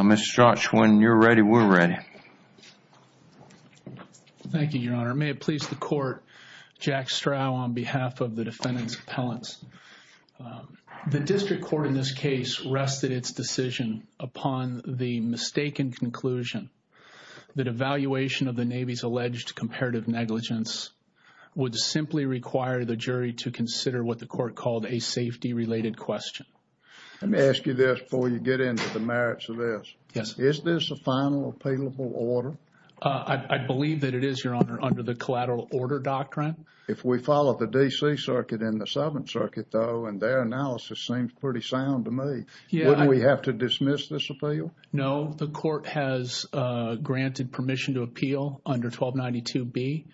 Mr. Strach, when you're ready, we're ready. Thank you, Your Honor. May it please the court, Jack Strauch on behalf of the defendant's appellants. The district court in this case rested its decision upon the mistaken conclusion that evaluation of the Navy's alleged comparative negligence would simply require the jury to consider what the court called a safety-related question. Let me ask you this before you get into the merits of this. Yes. Is this a final appealable order? I believe that it is, Your Honor, under the collateral order doctrine. If we follow the D.C. Circuit and the Seventh Circuit, though, and their analysis seems pretty sound to me, wouldn't we have to dismiss this appeal? No. The court has granted permission to appeal under 1292B.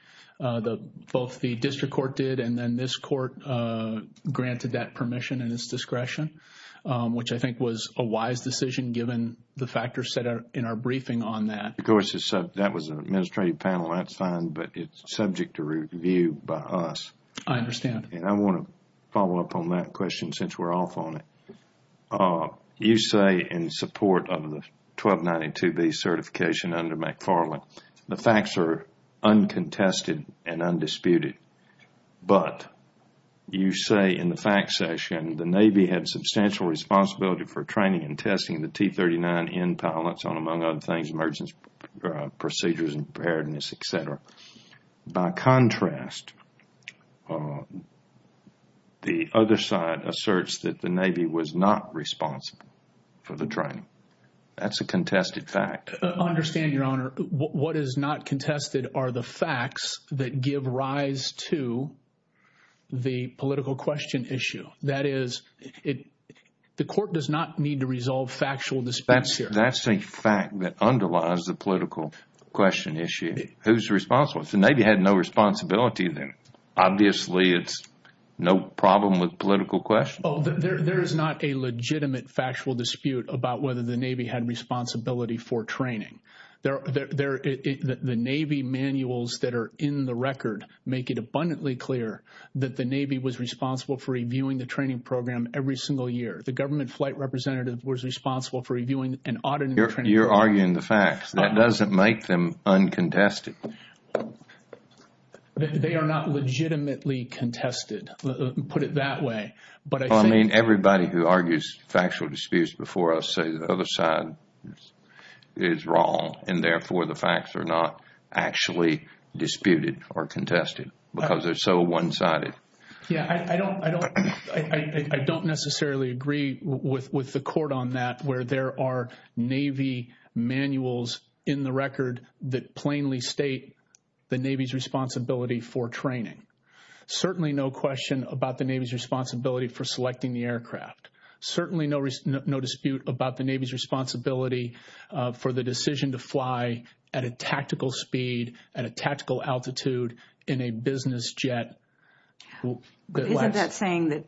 Both the district court did and then this court granted that permission and its discretion, which I think was a wise decision given the factors set in our briefing on that. Of course, that was an administrative panel. That's fine, but it's subject to review by us. I understand. And I want to follow up on that question since we're off on it. You say in support of the 1292B certification under McFarland, the facts are uncontested and undisputed. But you say in the fact session the Navy had substantial responsibility for training and testing the T-39N pilots on, among other things, emergency procedures and preparedness, etc. By contrast, the other side asserts that the Navy was not responsible for the training. That's a contested fact. I understand, Your Honor. What is not contested are the facts that give rise to the political question issue. That is, the court does not need to resolve factual disputes here. That's a fact that underlies the political question issue. Who's responsible? If the Navy had no responsibility, then obviously it's no problem with political questions. There is not a legitimate factual dispute about whether the Navy had responsibility for training. The Navy manuals that are in the record make it abundantly clear that the Navy was responsible for reviewing the training program every single year. The government flight representative was responsible for reviewing and auditing the training program. You're arguing the facts. That doesn't make them uncontested. They are not legitimately contested. Put it that way. Everybody who argues factual disputes before us says the other side is wrong. Therefore, the facts are not actually disputed or contested because they're so one-sided. I don't necessarily agree with the court on that where there are Navy manuals in the record that plainly state the Navy's responsibility for training. Certainly no question about the Navy's responsibility for selecting the aircraft. Certainly no dispute about the Navy's responsibility for the decision to fly at a tactical speed, at a tactical altitude, in a business jet. Isn't that saying that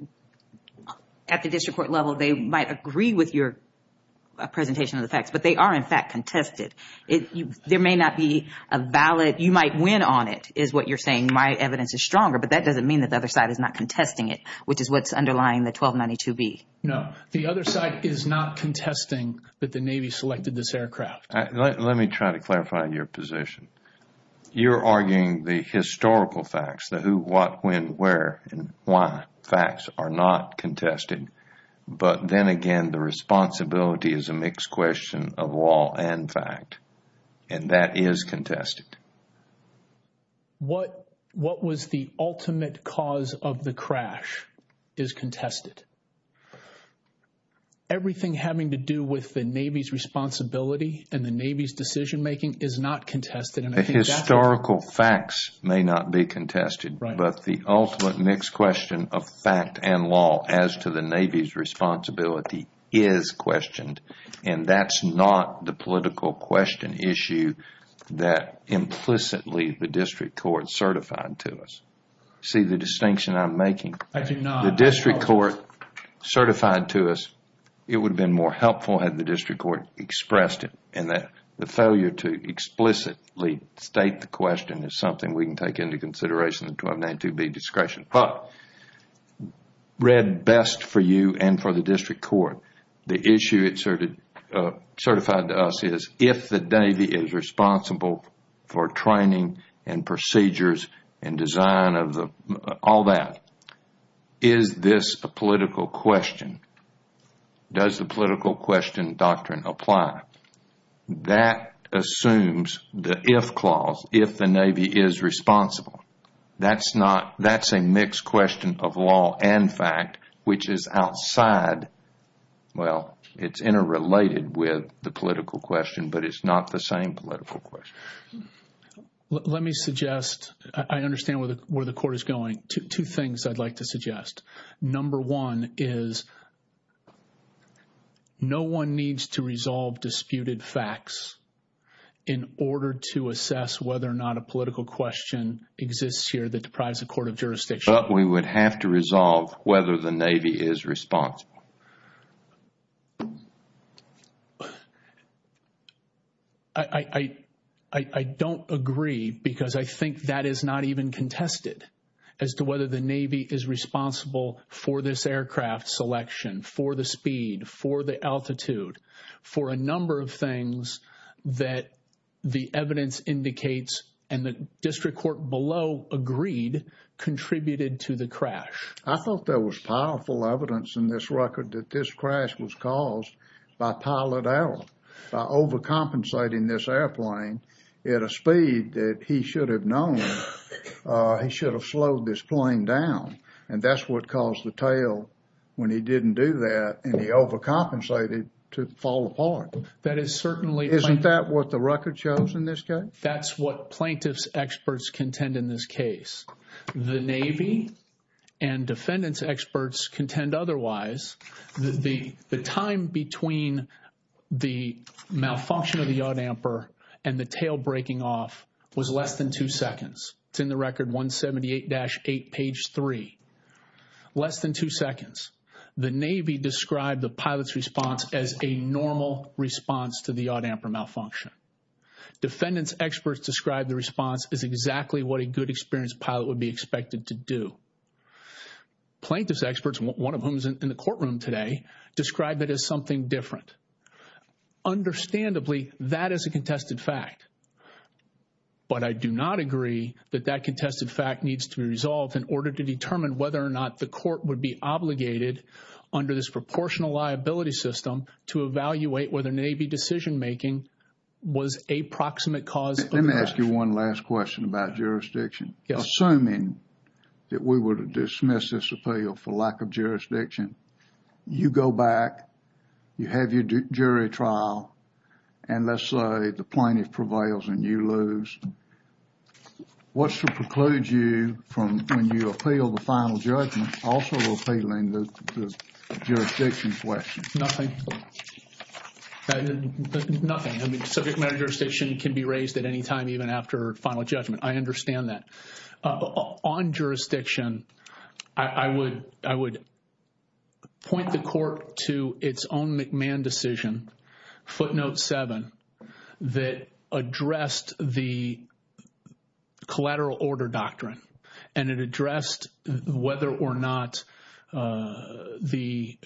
at the district court level they might agree with your presentation of the facts, but they are in fact contested? There may not be a valid – you might win on it is what you're saying. My evidence is stronger, but that doesn't mean that the other side is not contesting it, which is what's underlying the 1292B. No, the other side is not contesting that the Navy selected this aircraft. Let me try to clarify your position. You're arguing the historical facts, the who, what, when, where, and why facts are not contested. But then again, the responsibility is a mixed question of law and fact, and that is contested. What was the ultimate cause of the crash is contested. Everything having to do with the Navy's responsibility and the Navy's decision making is not contested. The historical facts may not be contested, but the ultimate mixed question of fact and law as to the Navy's responsibility is questioned. That's not the political question issue that implicitly the district court certified to us. See the distinction I'm making? I do not. The district court certified to us it would have been more helpful had the district court expressed it. The failure to explicitly state the question is something we can take into consideration in the 1292B discretion. But read best for you and for the district court. The issue it certified to us is if the Navy is responsible for training and procedures and design of all that, is this a political question? Does the political question doctrine apply? That assumes the if clause, if the Navy is responsible. That's a mixed question of law and fact, which is outside, well, it's interrelated with the political question, but it's not the same political question. Let me suggest, I understand where the court is going, two things I'd like to suggest. Number one is no one needs to resolve disputed facts in order to assess whether or not a political question exists here that deprives the court of jurisdiction. But we would have to resolve whether the Navy is responsible. I don't agree because I think that is not even contested as to whether the Navy is responsible for this aircraft selection, for the speed, for the altitude, for a number of things that the evidence indicates and the district court below agreed contributed to the crash. I thought there was powerful evidence in this record that this crash was caused by pilot error, by overcompensating this airplane at a speed that he should have known he should have slowed this plane down. And that's what caused the tail when he didn't do that and he overcompensated to fall apart. Isn't that what the record shows in this case? That's what plaintiff's experts contend in this case. The Navy and defendant's experts contend otherwise. The time between the malfunction of the yaw damper and the tail breaking off was less than two seconds. It's in the record 178-8, page 3. Less than two seconds. The Navy described the pilot's response as a normal response to the yaw damper malfunction. Defendant's experts described the response as exactly what a good experienced pilot would be expected to do. Plaintiff's experts, one of whom is in the courtroom today, described it as something different. Understandably, that is a contested fact. But I do not agree that that contested fact needs to be resolved in order to determine whether or not the court would be obligated, under this proportional liability system, to evaluate whether Navy decision making was a proximate cause of the crash. Let me ask you one last question about jurisdiction. Assuming that we were to dismiss this appeal for lack of jurisdiction, you go back, you have your jury trial, and let's say the plaintiff prevails and you lose. What should preclude you from, when you appeal the final judgment, also appealing the jurisdiction question? Nothing. Nothing. I mean, subject matter jurisdiction can be raised at any time, even after final judgment. I understand that. On jurisdiction, I would point the court to its own McMahon decision, footnote 7, that addressed the collateral order doctrine. And it addressed whether or not the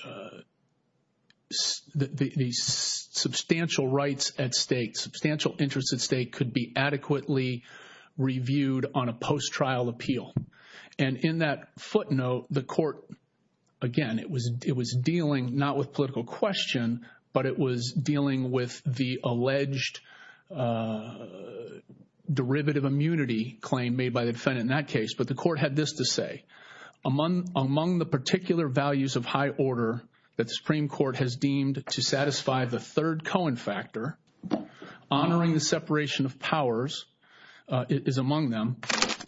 substantial rights at stake, substantial interests at stake, could be adequately reviewed on a post-trial appeal. And in that footnote, the court, again, it was dealing not with political question, but it was dealing with the alleged derivative immunity claim made by the defendant in that case. But the court had this to say. Among the particular values of high order that the Supreme Court has deemed to satisfy the third Cohen factor, honoring the separation of powers is among them,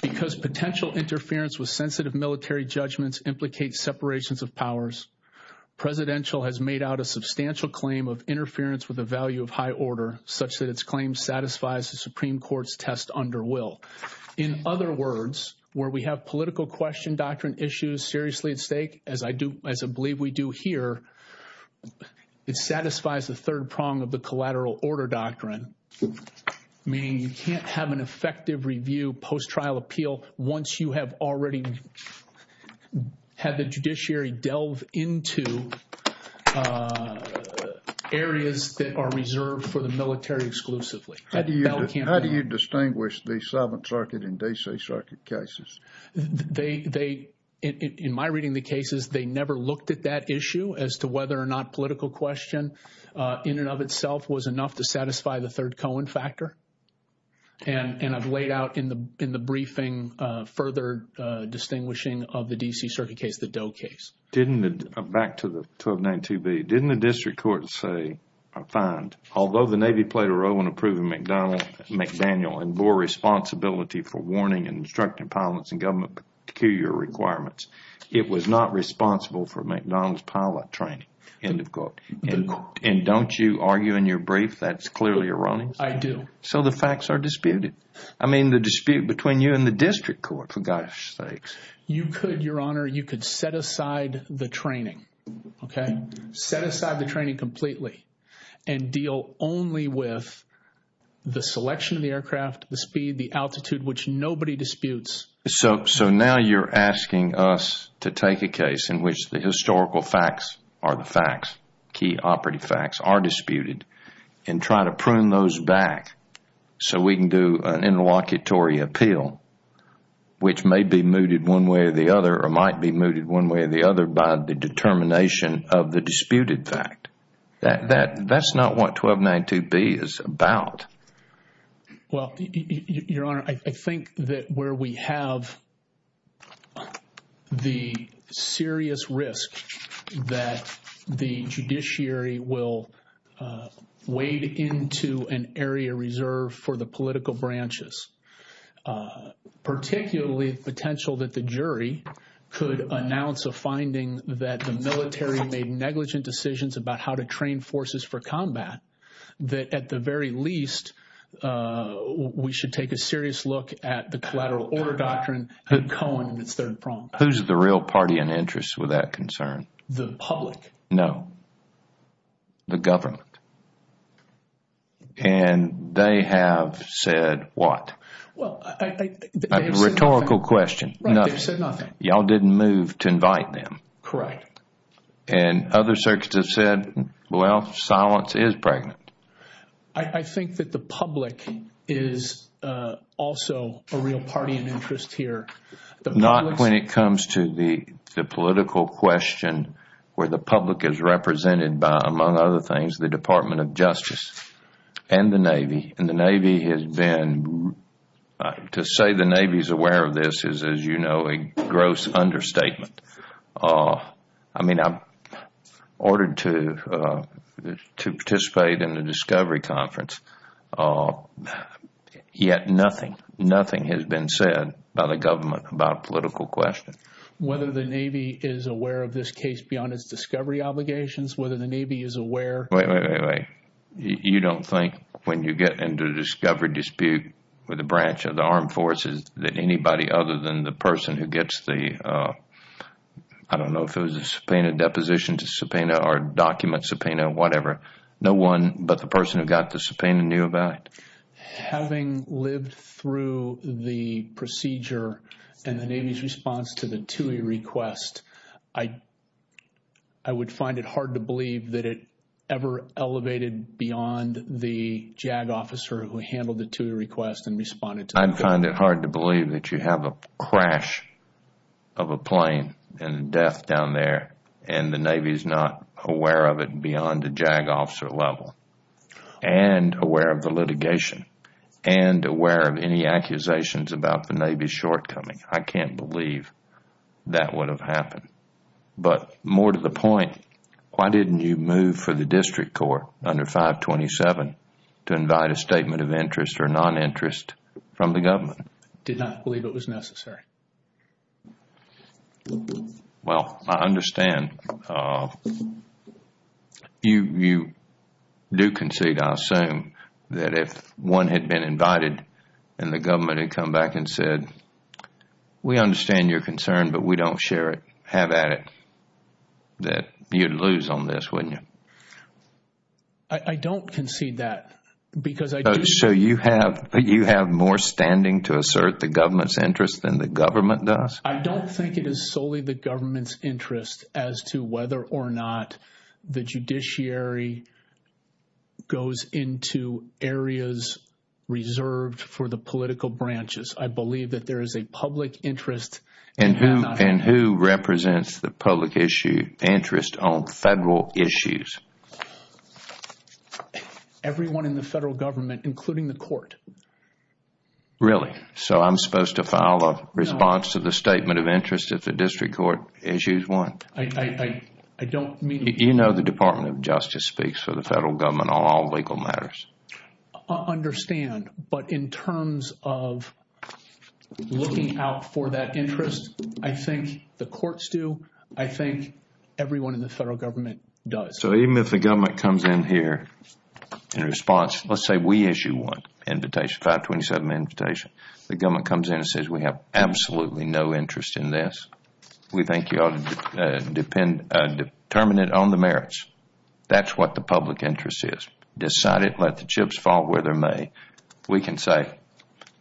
because potential interference with sensitive military judgments implicates separations of powers, presidential has made out a substantial claim of interference with the value of high order, such that its claim satisfies the Supreme Court's test under will. In other words, where we have political question doctrine issues seriously at stake, as I believe we do here, it satisfies the third prong of the collateral order doctrine, meaning you can't have an effective review post-trial appeal once you have already had the judiciary delve into areas that are reserved for the military exclusively. How do you distinguish the Seventh Circuit and D.C. Circuit cases? In my reading of the cases, they never looked at that issue as to whether or not political question in and of itself was enough to satisfy the third Cohen factor. And I've laid out in the briefing further distinguishing of the D.C. Circuit case, the Doe case. Back to the 1292B. Didn't the district court say, I find, although the Navy played a role in approving McDaniel and bore responsibility for warning and instructing pilots and government peculiar requirements, it was not responsible for McDonald's pilot training, end of quote. And don't you argue in your brief that's clearly erroneous? I do. So the facts are disputed. I mean the dispute between you and the district court, for God's sakes. You could, Your Honor, you could set aside the training. Okay? Set aside the training completely and deal only with the selection of the aircraft, the speed, the altitude, which nobody disputes. So now you're asking us to take a case in which the historical facts are the facts, key operative facts are disputed, and try to prune those back so we can do an interlocutory appeal, which may be mooted one way or the other or might be mooted one way or the other by the determination of the disputed fact. That's not what 1292B is about. Well, Your Honor, I think that where we have the serious risk that the judiciary will wade into an area reserved for the political branches, particularly the potential that the jury could announce a finding that the military made negligent decisions about how to train forces for combat, that at the very least we should take a serious look at the collateral order doctrine in Cohen and its third prong. Who's the real party in interest with that concern? The public. No. The government. And they have said what? Well, I think they've said nothing. A rhetorical question. Right, they've said nothing. Y'all didn't move to invite them. Correct. And other circuits have said, well, silence is pregnant. I think that the public is also a real party in interest here. Not when it comes to the political question where the public is represented by, among other things, the Department of Justice and the Navy. And the Navy has been, to say the Navy is aware of this is, as you know, a gross understatement. I mean, I'm ordered to participate in the discovery conference, yet nothing, nothing has been said by the government about a political question. Whether the Navy is aware of this case beyond its discovery obligations, whether the Navy is aware? Wait, wait, wait, wait. You don't think when you get into a discovery dispute with a branch of the Armed Forces that anybody other than the person who gets the, I don't know if it was a subpoena, deposition to subpoena or document subpoena, whatever, no one but the person who got the subpoena knew about it? Having lived through the procedure and the Navy's response to the TUI request, I would find it hard to believe that it ever elevated beyond the JAG officer who handled the TUI request and responded to it. I find it hard to believe that you have a crash of a plane and death down there and the Navy is not aware of it beyond the JAG officer level. And aware of the litigation and aware of any accusations about the Navy's shortcoming. I can't believe that would have happened. But more to the point, why didn't you move for the district court under 527 to invite a statement of interest or non-interest from the government? I did not believe it was necessary. Well, I understand. You do concede, I assume, that if one had been invited and the government had come back and said, we understand your concern, but we don't share it, have at it, that you'd lose on this, wouldn't you? I don't concede that. So you have more standing to assert the government's interest than the government does? I don't think it is solely the government's interest as to whether or not the judiciary goes into areas reserved for the political branches. I believe that there is a public interest. And who represents the public interest on federal issues? Everyone in the federal government, including the court. Really? So I'm supposed to file a response to the statement of interest if the district court issues one? I don't mean to. You know the Department of Justice speaks for the federal government on all legal matters. I understand. But in terms of looking out for that interest, I think the courts do. I think everyone in the federal government does. So even if the government comes in here in response, let's say we issue one invitation, 527 invitation. The government comes in and says, we have absolutely no interest in this. We think you ought to determine it on the merits. That's what the public interest is. Decide it, let the chips fall where they may. We can say,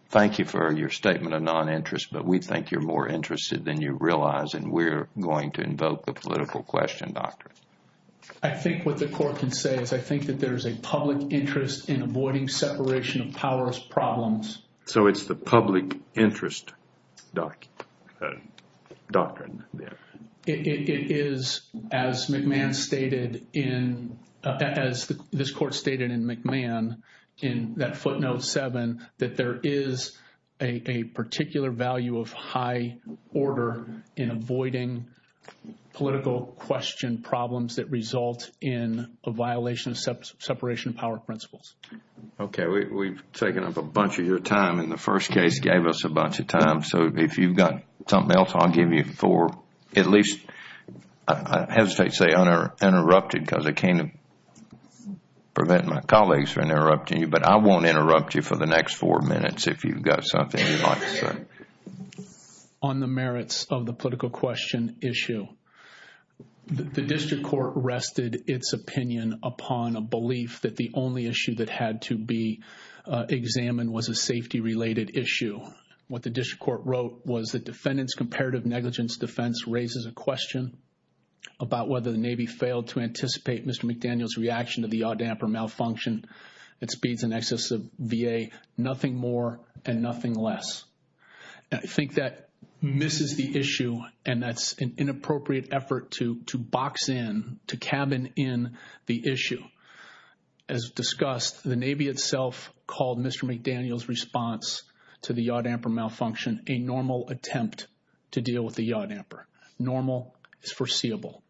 thank you for your statement of non-interest, but we think you're more interested than you realize, and we're going to invoke the political question doctrine. I think what the court can say is I think that there is a public interest in avoiding separation of powers problems. So it's the public interest doctrine. It is, as this court stated in McMahon, in that footnote 7, that there is a particular value of high order in avoiding political question problems that result in a violation of separation of power principles. Okay, we've taken up a bunch of your time, and the first case gave us a bunch of time. So if you've got something else, I'll give you four, at least, I hesitate to say interrupted because I can't prevent my colleagues from interrupting you, but I won't interrupt you for the next four minutes if you've got something you'd like to say. On the merits of the political question issue, the district court rested its opinion upon a belief that the only issue that had to be examined was a safety-related issue. What the district court wrote was the defendant's comparative negligence defense raises a question about whether the Navy failed to anticipate Mr. McDaniel's reaction to the Yaw Damper malfunction that speeds an excess of VA, nothing more and nothing less. I think that misses the issue, and that's an inappropriate effort to box in, to cabin in the issue. As discussed, the Navy itself called Mr. McDaniel's response to the Yaw Damper malfunction a normal attempt to deal with the Yaw Damper. Normal is foreseeable.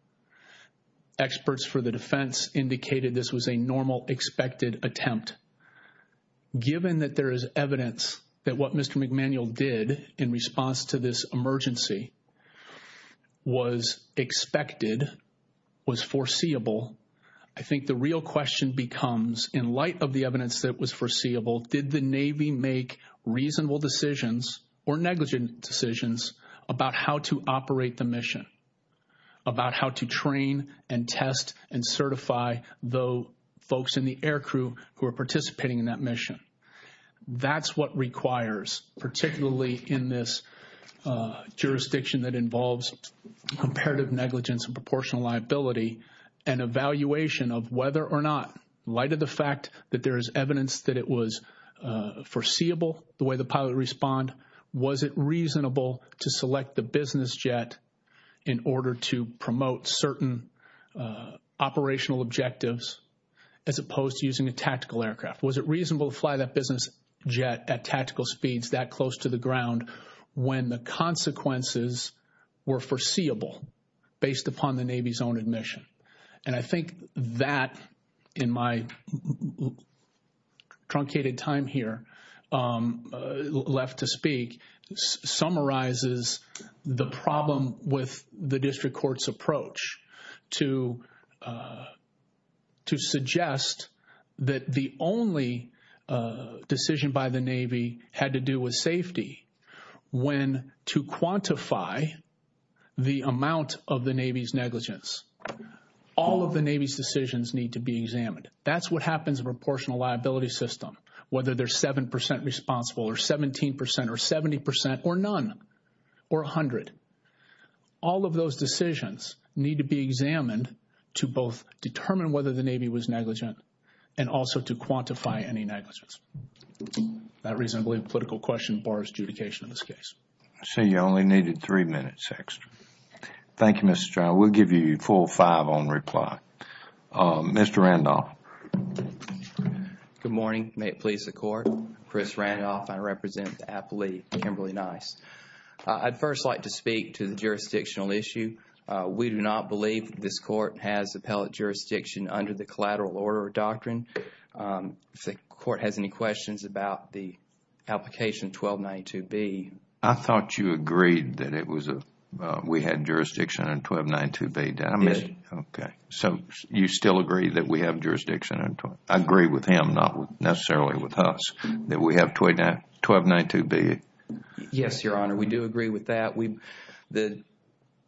Experts for the defense indicated this was a normal expected attempt. Given that there is evidence that what Mr. McDaniel did in response to this emergency was expected, was foreseeable, I think the real question becomes, in light of the evidence that was foreseeable, did the Navy make reasonable decisions or negligent decisions about how to operate the mission, about how to train and test and certify the folks in the air crew who are participating in that mission? That's what requires, particularly in this jurisdiction that involves comparative negligence and proportional liability, an evaluation of whether or not, in light of the fact that there is evidence that it was foreseeable, the way the pilot responded, was it reasonable to select the business jet in order to promote certain operational objectives as opposed to using a tactical aircraft? Was it reasonable to fly that business jet at tactical speeds that close to the ground when the consequences were foreseeable based upon the Navy's own admission? And I think that, in my truncated time here, left to speak, summarizes the problem with the district court's approach to suggest that the only decision by the Navy had to do with safety when, to quantify the amount of the Navy's negligence, all of the Navy's decisions need to be examined. That's what happens in a proportional liability system, whether they're 7% responsible or 17% or 70% or none or 100. All of those decisions need to be examined to both determine whether the Navy was negligent and also to quantify any negligence. That reason, I believe, political question bars adjudication in this case. I see you only needed three minutes extra. Thank you, Mr. Child. We'll give you a full five on reply. Mr. Randolph. Good morning. May it please the Court. Chris Randolph. I represent the appellee, Kimberly Nice. I'd first like to speak to the jurisdictional issue. We do not believe this court has appellate jurisdiction under the collateral order doctrine. If the Court has any questions about the application 1292B. I thought you agreed that we had jurisdiction under 1292B. Yes. Okay. You still agree that we have jurisdiction? I agree with him, not necessarily with us, that we have 1292B. Yes, Your Honor. We do agree with that. The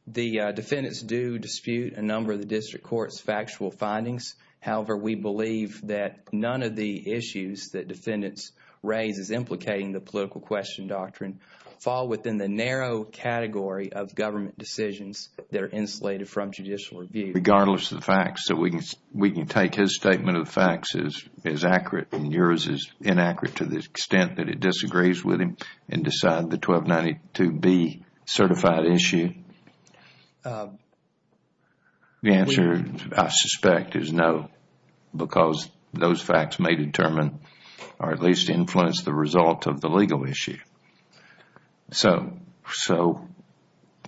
defendants do dispute a number of the district court's factual findings. However, we believe that none of the issues that defendants raise as implicating the political question doctrine fall within the narrow category of government decisions that are insulated from judicial review. Regardless of the facts, we can take his statement of the facts as accurate and yours as inaccurate to the extent that it disagrees with him and decide the 1292B certified issue. The answer, I suspect, is no because those facts may determine or at least influence the result of the legal issue.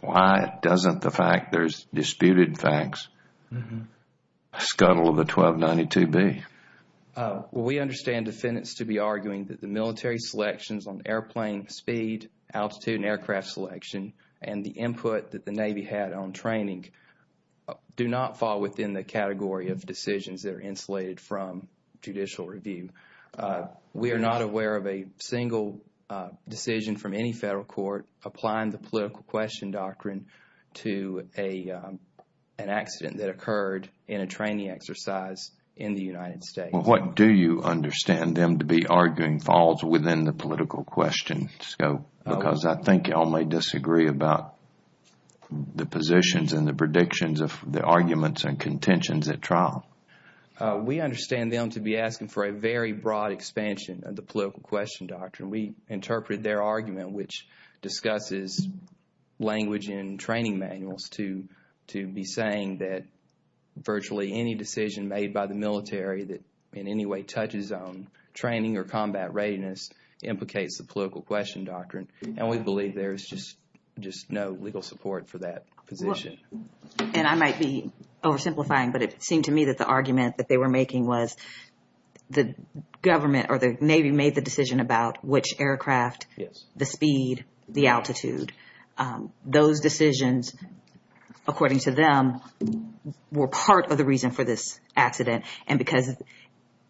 Why doesn't the fact there's disputed facts scuttle the 1292B? We understand defendants to be arguing that the military selections on airplane speed, altitude, and aircraft selection and the input that the Navy had on training do not fall within the category of decisions that are insulated from judicial review. We are not aware of a single decision from any federal court applying the political question doctrine to an accident that occurred in a training exercise in the United States. What do you understand them to be arguing falls within the political question scope? Because I think you all may disagree about the positions and the predictions of the arguments and contentions at trial. We understand them to be asking for a very broad expansion of the political question doctrine. We interpreted their argument, which discusses language in training manuals, to be saying that virtually any decision made by the military that in any way touches on training or combat readiness implicates the political question doctrine. And we believe there's just no legal support for that position. And I might be oversimplifying, but it seemed to me that the argument that they were making was the government or the Navy made the decision about which aircraft, the speed, the altitude. Those decisions, according to them, were part of the reason for this accident. And because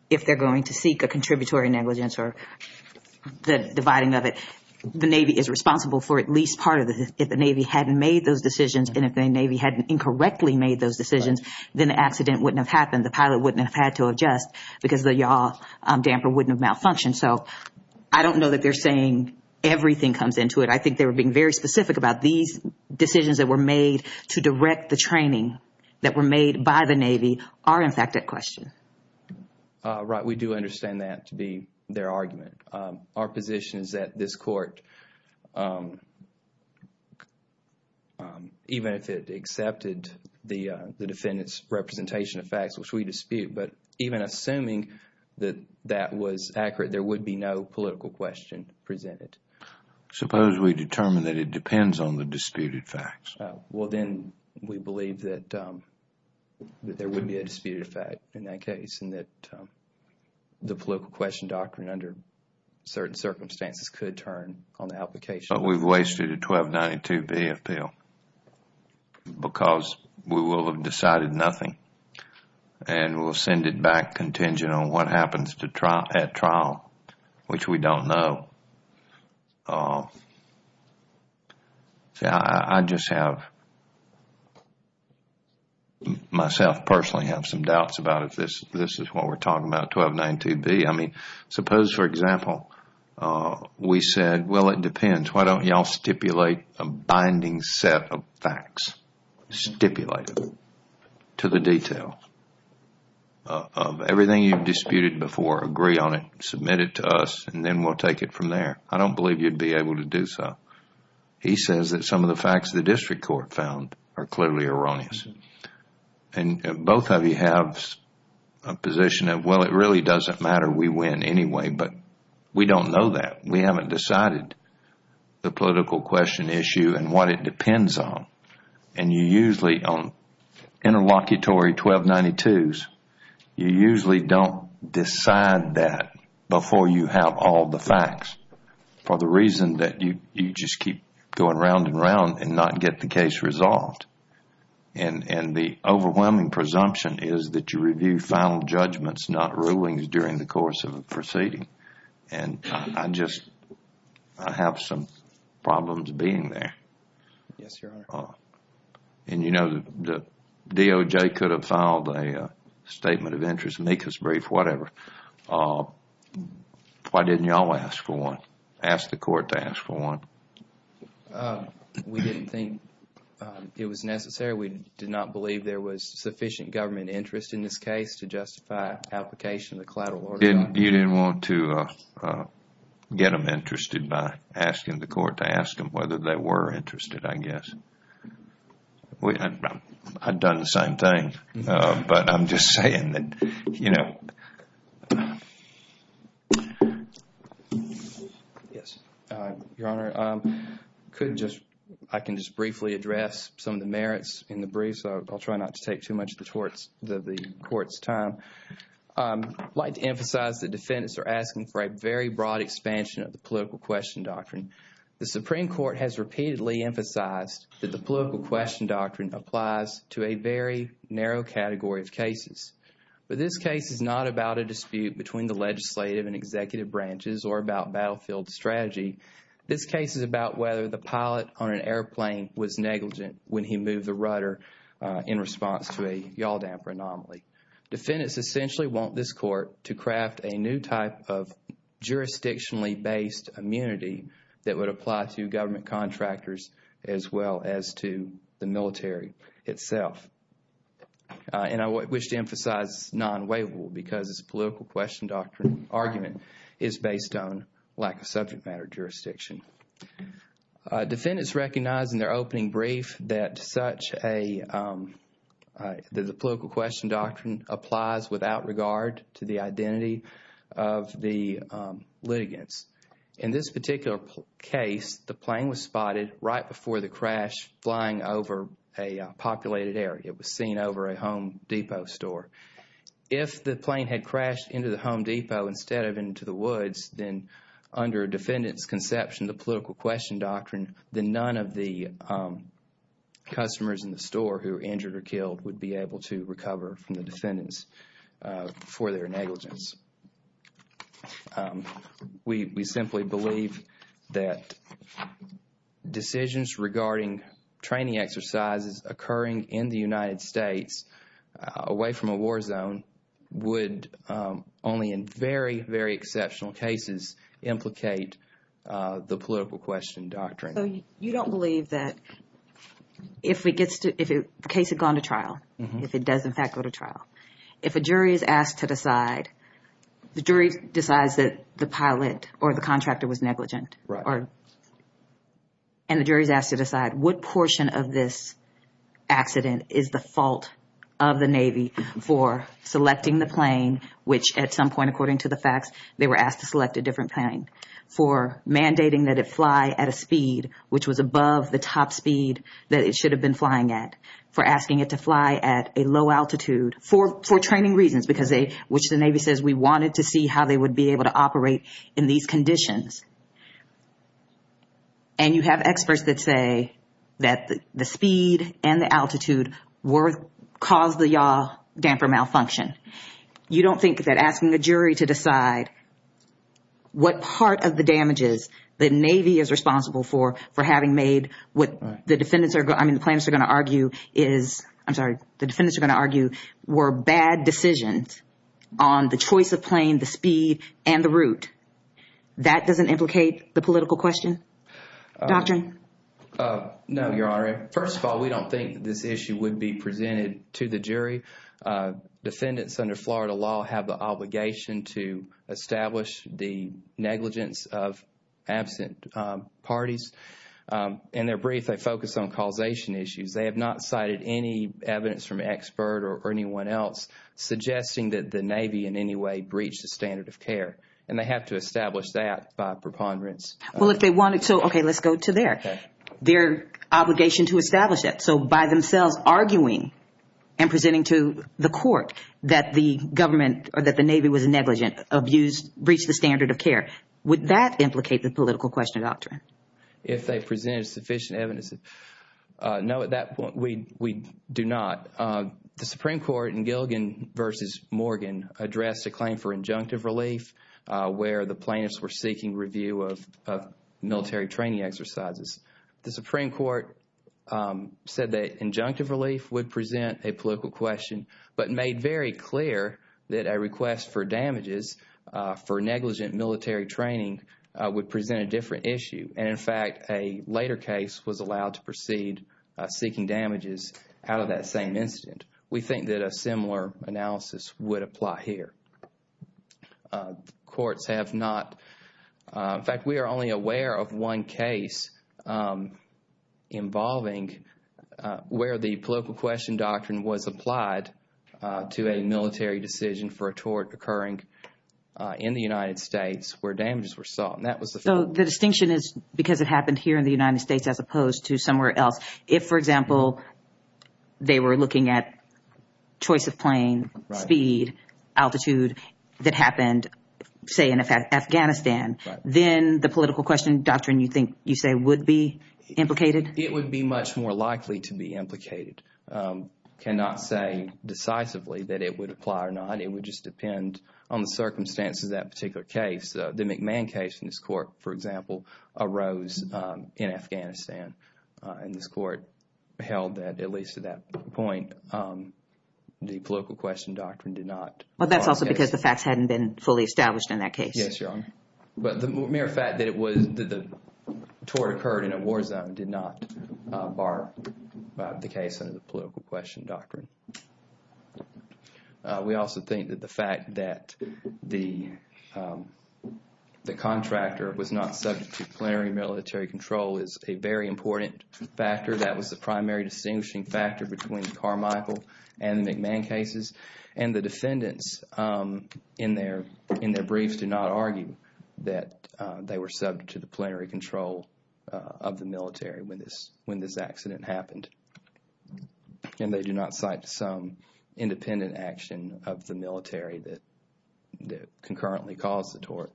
if they're going to seek a contributory negligence or the dividing of it, the Navy is responsible for at least part of it. If the Navy hadn't made those decisions and if the Navy hadn't incorrectly made those decisions, then the accident wouldn't have happened. The pilot wouldn't have had to adjust because the yaw damper wouldn't have malfunctioned. So I don't know that they're saying everything comes into it. I think they were being very specific about these decisions that were made to direct the training that were made by the Navy are, in fact, at question. Right. We do understand that to be their argument. Our position is that this court, even if it accepted the defendant's representation of facts, which we dispute, but even assuming that that was accurate, there would be no political question presented. Suppose we determine that it depends on the disputed facts. Well, then we believe that there would be a disputed fact in that case and that the political question doctrine under certain circumstances could turn on the application. But we've wasted a 1292B appeal because we will have decided nothing and we'll send it back contingent on what happens at trial, which we don't know. I just have, myself personally, have some doubts about if this is what we're talking about, 1292B. I mean, suppose, for example, we said, well, it depends. Why don't you all stipulate a binding set of facts? Stipulate it to the detail of everything you've disputed before. Agree on it, submit it to us, and then we'll take it from there. I don't believe you'd be able to do so. He says that some of the facts the district court found are clearly erroneous. And both of you have a position of, well, it really doesn't matter. We win anyway, but we don't know that. We haven't decided the political question issue and what it depends on. And you usually, on interlocutory 1292s, you usually don't decide that before you have all the facts for the reason that you just keep going round and round and not get the case resolved. And the overwhelming presumption is that you review final judgments, not rulings, during the course of a proceeding. And I just have some problems being there. Yes, Your Honor. And, you know, the DOJ could have filed a statement of interest, make us brief, whatever. Why didn't you all ask for one, ask the court to ask for one? We didn't think it was necessary. We did not believe there was sufficient government interest in this case to justify application of the collateral order. You didn't want to get them interested by asking the court to ask them whether they were interested, I guess. I'd done the same thing, but I'm just saying that, you know. Yes, Your Honor. I can just briefly address some of the merits in the brief, so I'll try not to take too much of the court's time. I'd like to emphasize that defendants are asking for a very broad expansion of the political question doctrine. The Supreme Court has repeatedly emphasized that the political question doctrine applies to a very narrow category of cases. But this case is not about a dispute between the legislative and executive branches or about battlefield strategy. This case is about whether the pilot on an airplane was negligent when he moved the rudder in response to a yaw damper anomaly. Defendants essentially want this court to craft a new type of jurisdictionally based immunity that would apply to government contractors as well as to the military itself. And I wish to emphasize non-waivable because this political question doctrine argument is based on lack of subject matter jurisdiction. Defendants recognize in their opening brief that the political question doctrine applies without regard to the identity of the litigants. In this particular case, the plane was spotted right before the crash flying over a populated area. It was seen over a Home Depot store. If the plane had crashed into the Home Depot instead of into the woods, then under a defendant's conception, the political question doctrine, then none of the customers in the store who were injured or killed would be able to recover from the defendants for their negligence. We simply believe that decisions regarding training exercises occurring in the United States away from a war zone would only in very, very exceptional cases implicate the political question doctrine. So you don't believe that if the case had gone to trial, if it does in fact go to trial, if a jury is asked to decide, the jury decides that the pilot or the contractor was negligent, and the jury is asked to decide what portion of this accident is the fault of the Navy for selecting the plane, which at some point, according to the facts, they were asked to select a different plane, for mandating that it fly at a speed which was above the top speed that it should have been flying at, for asking it to fly at a low altitude for training reasons, which the Navy says we wanted to see how they would be able to operate in these conditions. And you have experts that say that the speed and the altitude caused the yaw damper malfunction. You don't think that asking a jury to decide what part of the damages the Navy is responsible for, for having made what the defendants are going to argue is, I'm sorry, the defendants are going to argue were bad decisions on the choice of plane, the speed, and the route. That doesn't implicate the political question doctrine? No, Your Honor. First of all, we don't think this issue would be presented to the jury. Defendants under Florida law have the obligation to establish the negligence of absent parties. In their brief, they focus on causation issues. They have not cited any evidence from an expert or anyone else suggesting that the Navy in any way breached the standard of care, and they have to establish that by preponderance. Well, if they wanted to, okay, let's go to their obligation to establish that. So by themselves arguing and presenting to the court that the government or that the Navy was negligent, abused, breached the standard of care, would that implicate the political question doctrine? If they presented sufficient evidence. No, at that point, we do not. The Supreme Court in Gilgin v. Morgan addressed a claim for injunctive relief where the plaintiffs were seeking review of military training exercises. The Supreme Court said that injunctive relief would present a political question, but made very clear that a request for damages for negligent military training would present a different issue. And, in fact, a later case was allowed to proceed seeking damages out of that same incident. We think that a similar analysis would apply here. Courts have not. In fact, we are only aware of one case involving where the political question doctrine was applied to a military decision for a tort occurring in the United States where damages were sought. So the distinction is because it happened here in the United States as opposed to somewhere else. If, for example, they were looking at choice of plane, speed, altitude that happened, say, in Afghanistan, then the political question doctrine, you think, you say, would be implicated? It would be much more likely to be implicated. I cannot say decisively that it would apply or not. It would just depend on the circumstances of that particular case. The McMahon case in this court, for example, arose in Afghanistan. And this court held that, at least to that point, the political question doctrine did not. Well, that's also because the facts hadn't been fully established in that case. Yes, Your Honor. But the mere fact that the tort occurred in a war zone did not bar the case under the political question doctrine. We also think that the fact that the contractor was not subject to plenary military control is a very important factor. That was the primary distinguishing factor between Carmichael and the McMahon cases. And the defendants in their briefs do not argue that they were subject to the plenary control of the military when this accident happened. And they do not cite some independent action of the military that concurrently caused the tort.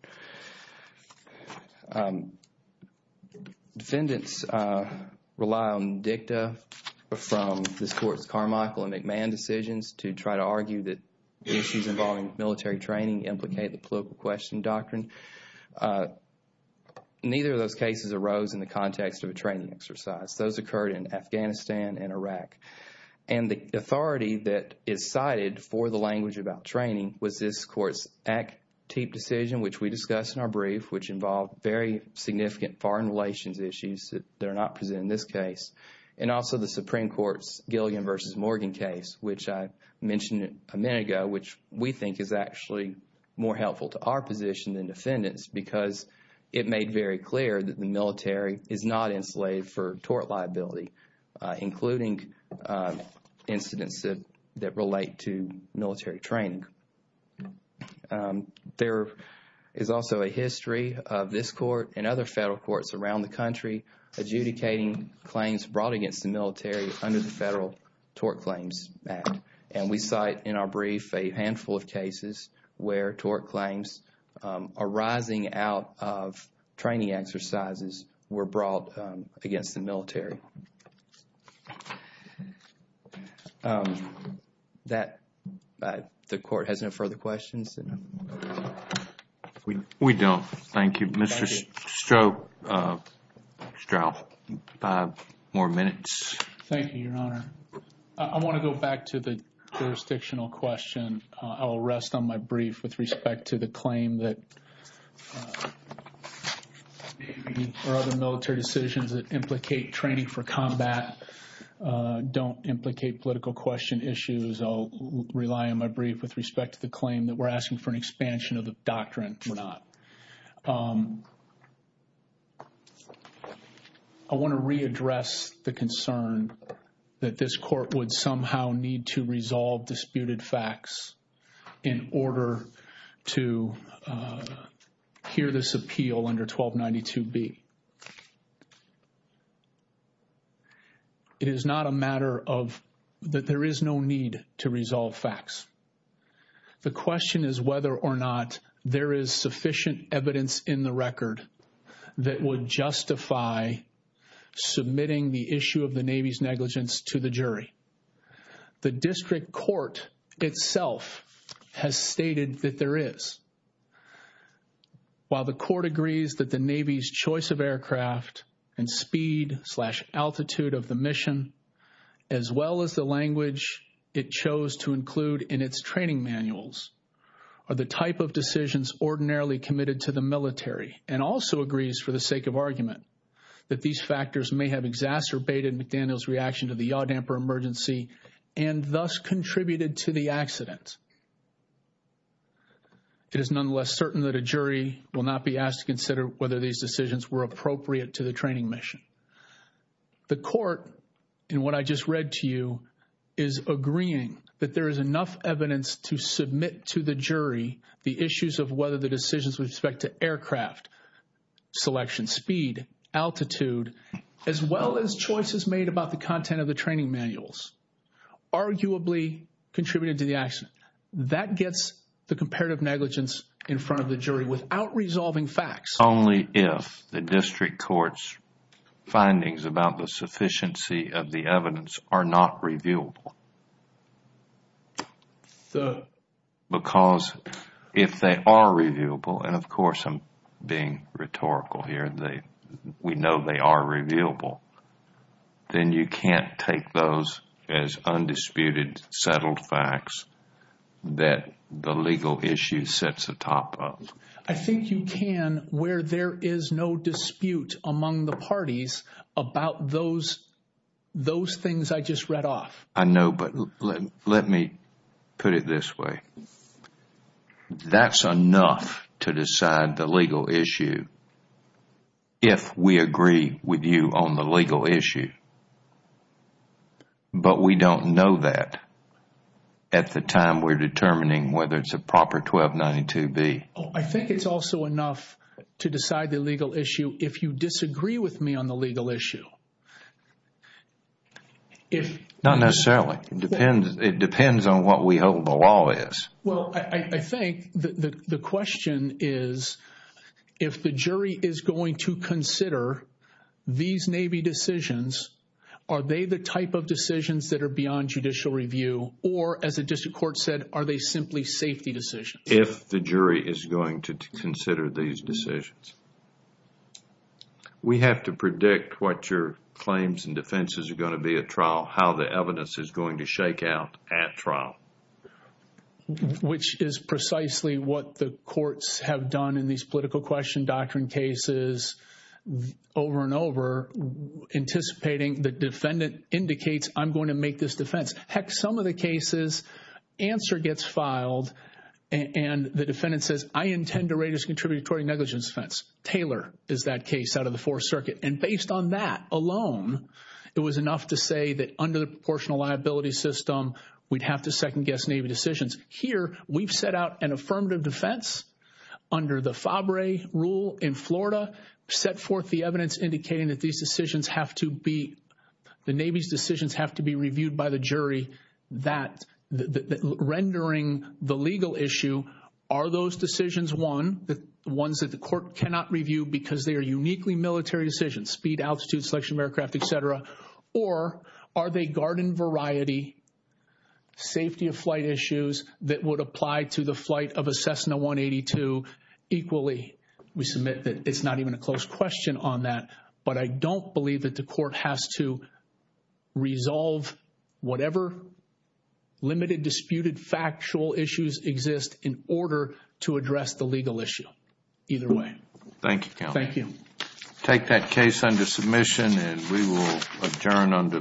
Defendants rely on dicta from this court's Carmichael and McMahon decisions to try to argue that issues involving military training implicate the political question doctrine. Neither of those cases arose in the context of a training exercise. Those occurred in Afghanistan and Iraq. And the authority that is cited for the language about training was this court's ACTEEP decision, which we discussed in our brief, which involved very significant foreign relations issues that are not presented in this case. And also the Supreme Court's Gilligan v. Morgan case, which I mentioned a minute ago, which we think is actually more helpful to our position than defendants because it made very clear that the military is not enslaved for tort liability, including incidents that relate to military training. There is also a history of this court and other federal courts around the country adjudicating claims brought against the military under the Federal Tort Claims Act. And we cite in our brief a handful of cases where tort claims arising out of training exercises were brought against the military. That, the court has no further questions? We don't. Thank you. Mr. Straub, five more minutes. Thank you, Your Honor. I want to go back to the jurisdictional question. I will rest on my brief with respect to the claim that or other military decisions that implicate training for combat don't implicate political question issues. I'll rely on my brief with respect to the claim that we're asking for an expansion of the doctrine. We're not. I want to readdress the concern that this court would somehow need to resolve disputed facts in order to hear this appeal under 1292B. It is not a matter of that there is no need to resolve facts. The question is whether or not there is sufficient evidence in the record that would justify submitting the issue of the Navy's negligence to the jury. The district court itself has stated that there is. While the court agrees that the Navy's choice of aircraft and speed slash altitude of the mission as well as the language it chose to include in its training manuals are the type of decisions ordinarily committed to the military and also agrees for the sake of argument that these factors may have exacerbated McDaniel's reaction to the yaw damper emergency and thus contributed to the accident. It is nonetheless certain that a jury will not be asked to consider whether these decisions were appropriate to the training mission. The court, in what I just read to you, is agreeing that there is enough evidence to submit to the jury the issues of whether the decisions with respect to aircraft, selection speed, altitude, as well as choices made about the content of the training manuals arguably contributed to the accident. That gets the comparative negligence in front of the jury without resolving facts. Only if the district court's findings about the sufficiency of the evidence are not reviewable. Because if they are reviewable, and of course I'm being rhetorical here, we know they are reviewable, then you can't take those as undisputed settled facts that the legal issue sets the top of. I think you can where there is no dispute among the parties about those things I just read off. I know, but let me put it this way. That's enough to decide the legal issue if we agree with you on the legal issue. But we don't know that at the time we're determining whether it's a proper 1292B. I think it's also enough to decide the legal issue if you disagree with me on the legal issue. Not necessarily. It depends on what we hope the law is. Well, I think the question is if the jury is going to consider these Navy decisions, are they the type of decisions that are beyond judicial review, or as the district court said, are they simply safety decisions? If the jury is going to consider these decisions. We have to predict what your claims and defenses are going to be at trial, how the evidence is going to shake out at trial. Which is precisely what the courts have done in these political question doctrine cases over and over, anticipating the defendant indicates I'm going to make this defense. Heck, some of the cases, answer gets filed, and the defendant says, I intend to rate as contributory negligence defense. Taylor is that case out of the Fourth Circuit. And based on that alone, it was enough to say that under the proportional liability system, we'd have to second-guess Navy decisions. Here, we've set out an affirmative defense under the FABRE rule in Florida, set forth the evidence indicating that these decisions have to be, the Navy's decisions have to be reviewed by the jury, that rendering the legal issue, are those decisions one, the ones that the court cannot review because they are uniquely military decisions, speed, altitude, selection of aircraft, et cetera, or are they garden variety, safety of flight issues that would apply to the flight of a Cessna 182 equally? We submit that it's not even a close question on that, but I don't believe that the court has to resolve whatever limited, disputed factual issues exist in order to address the legal issue. Either way. Thank you, County. Thank you. Take that case under submission, and we will adjourn under the usual order.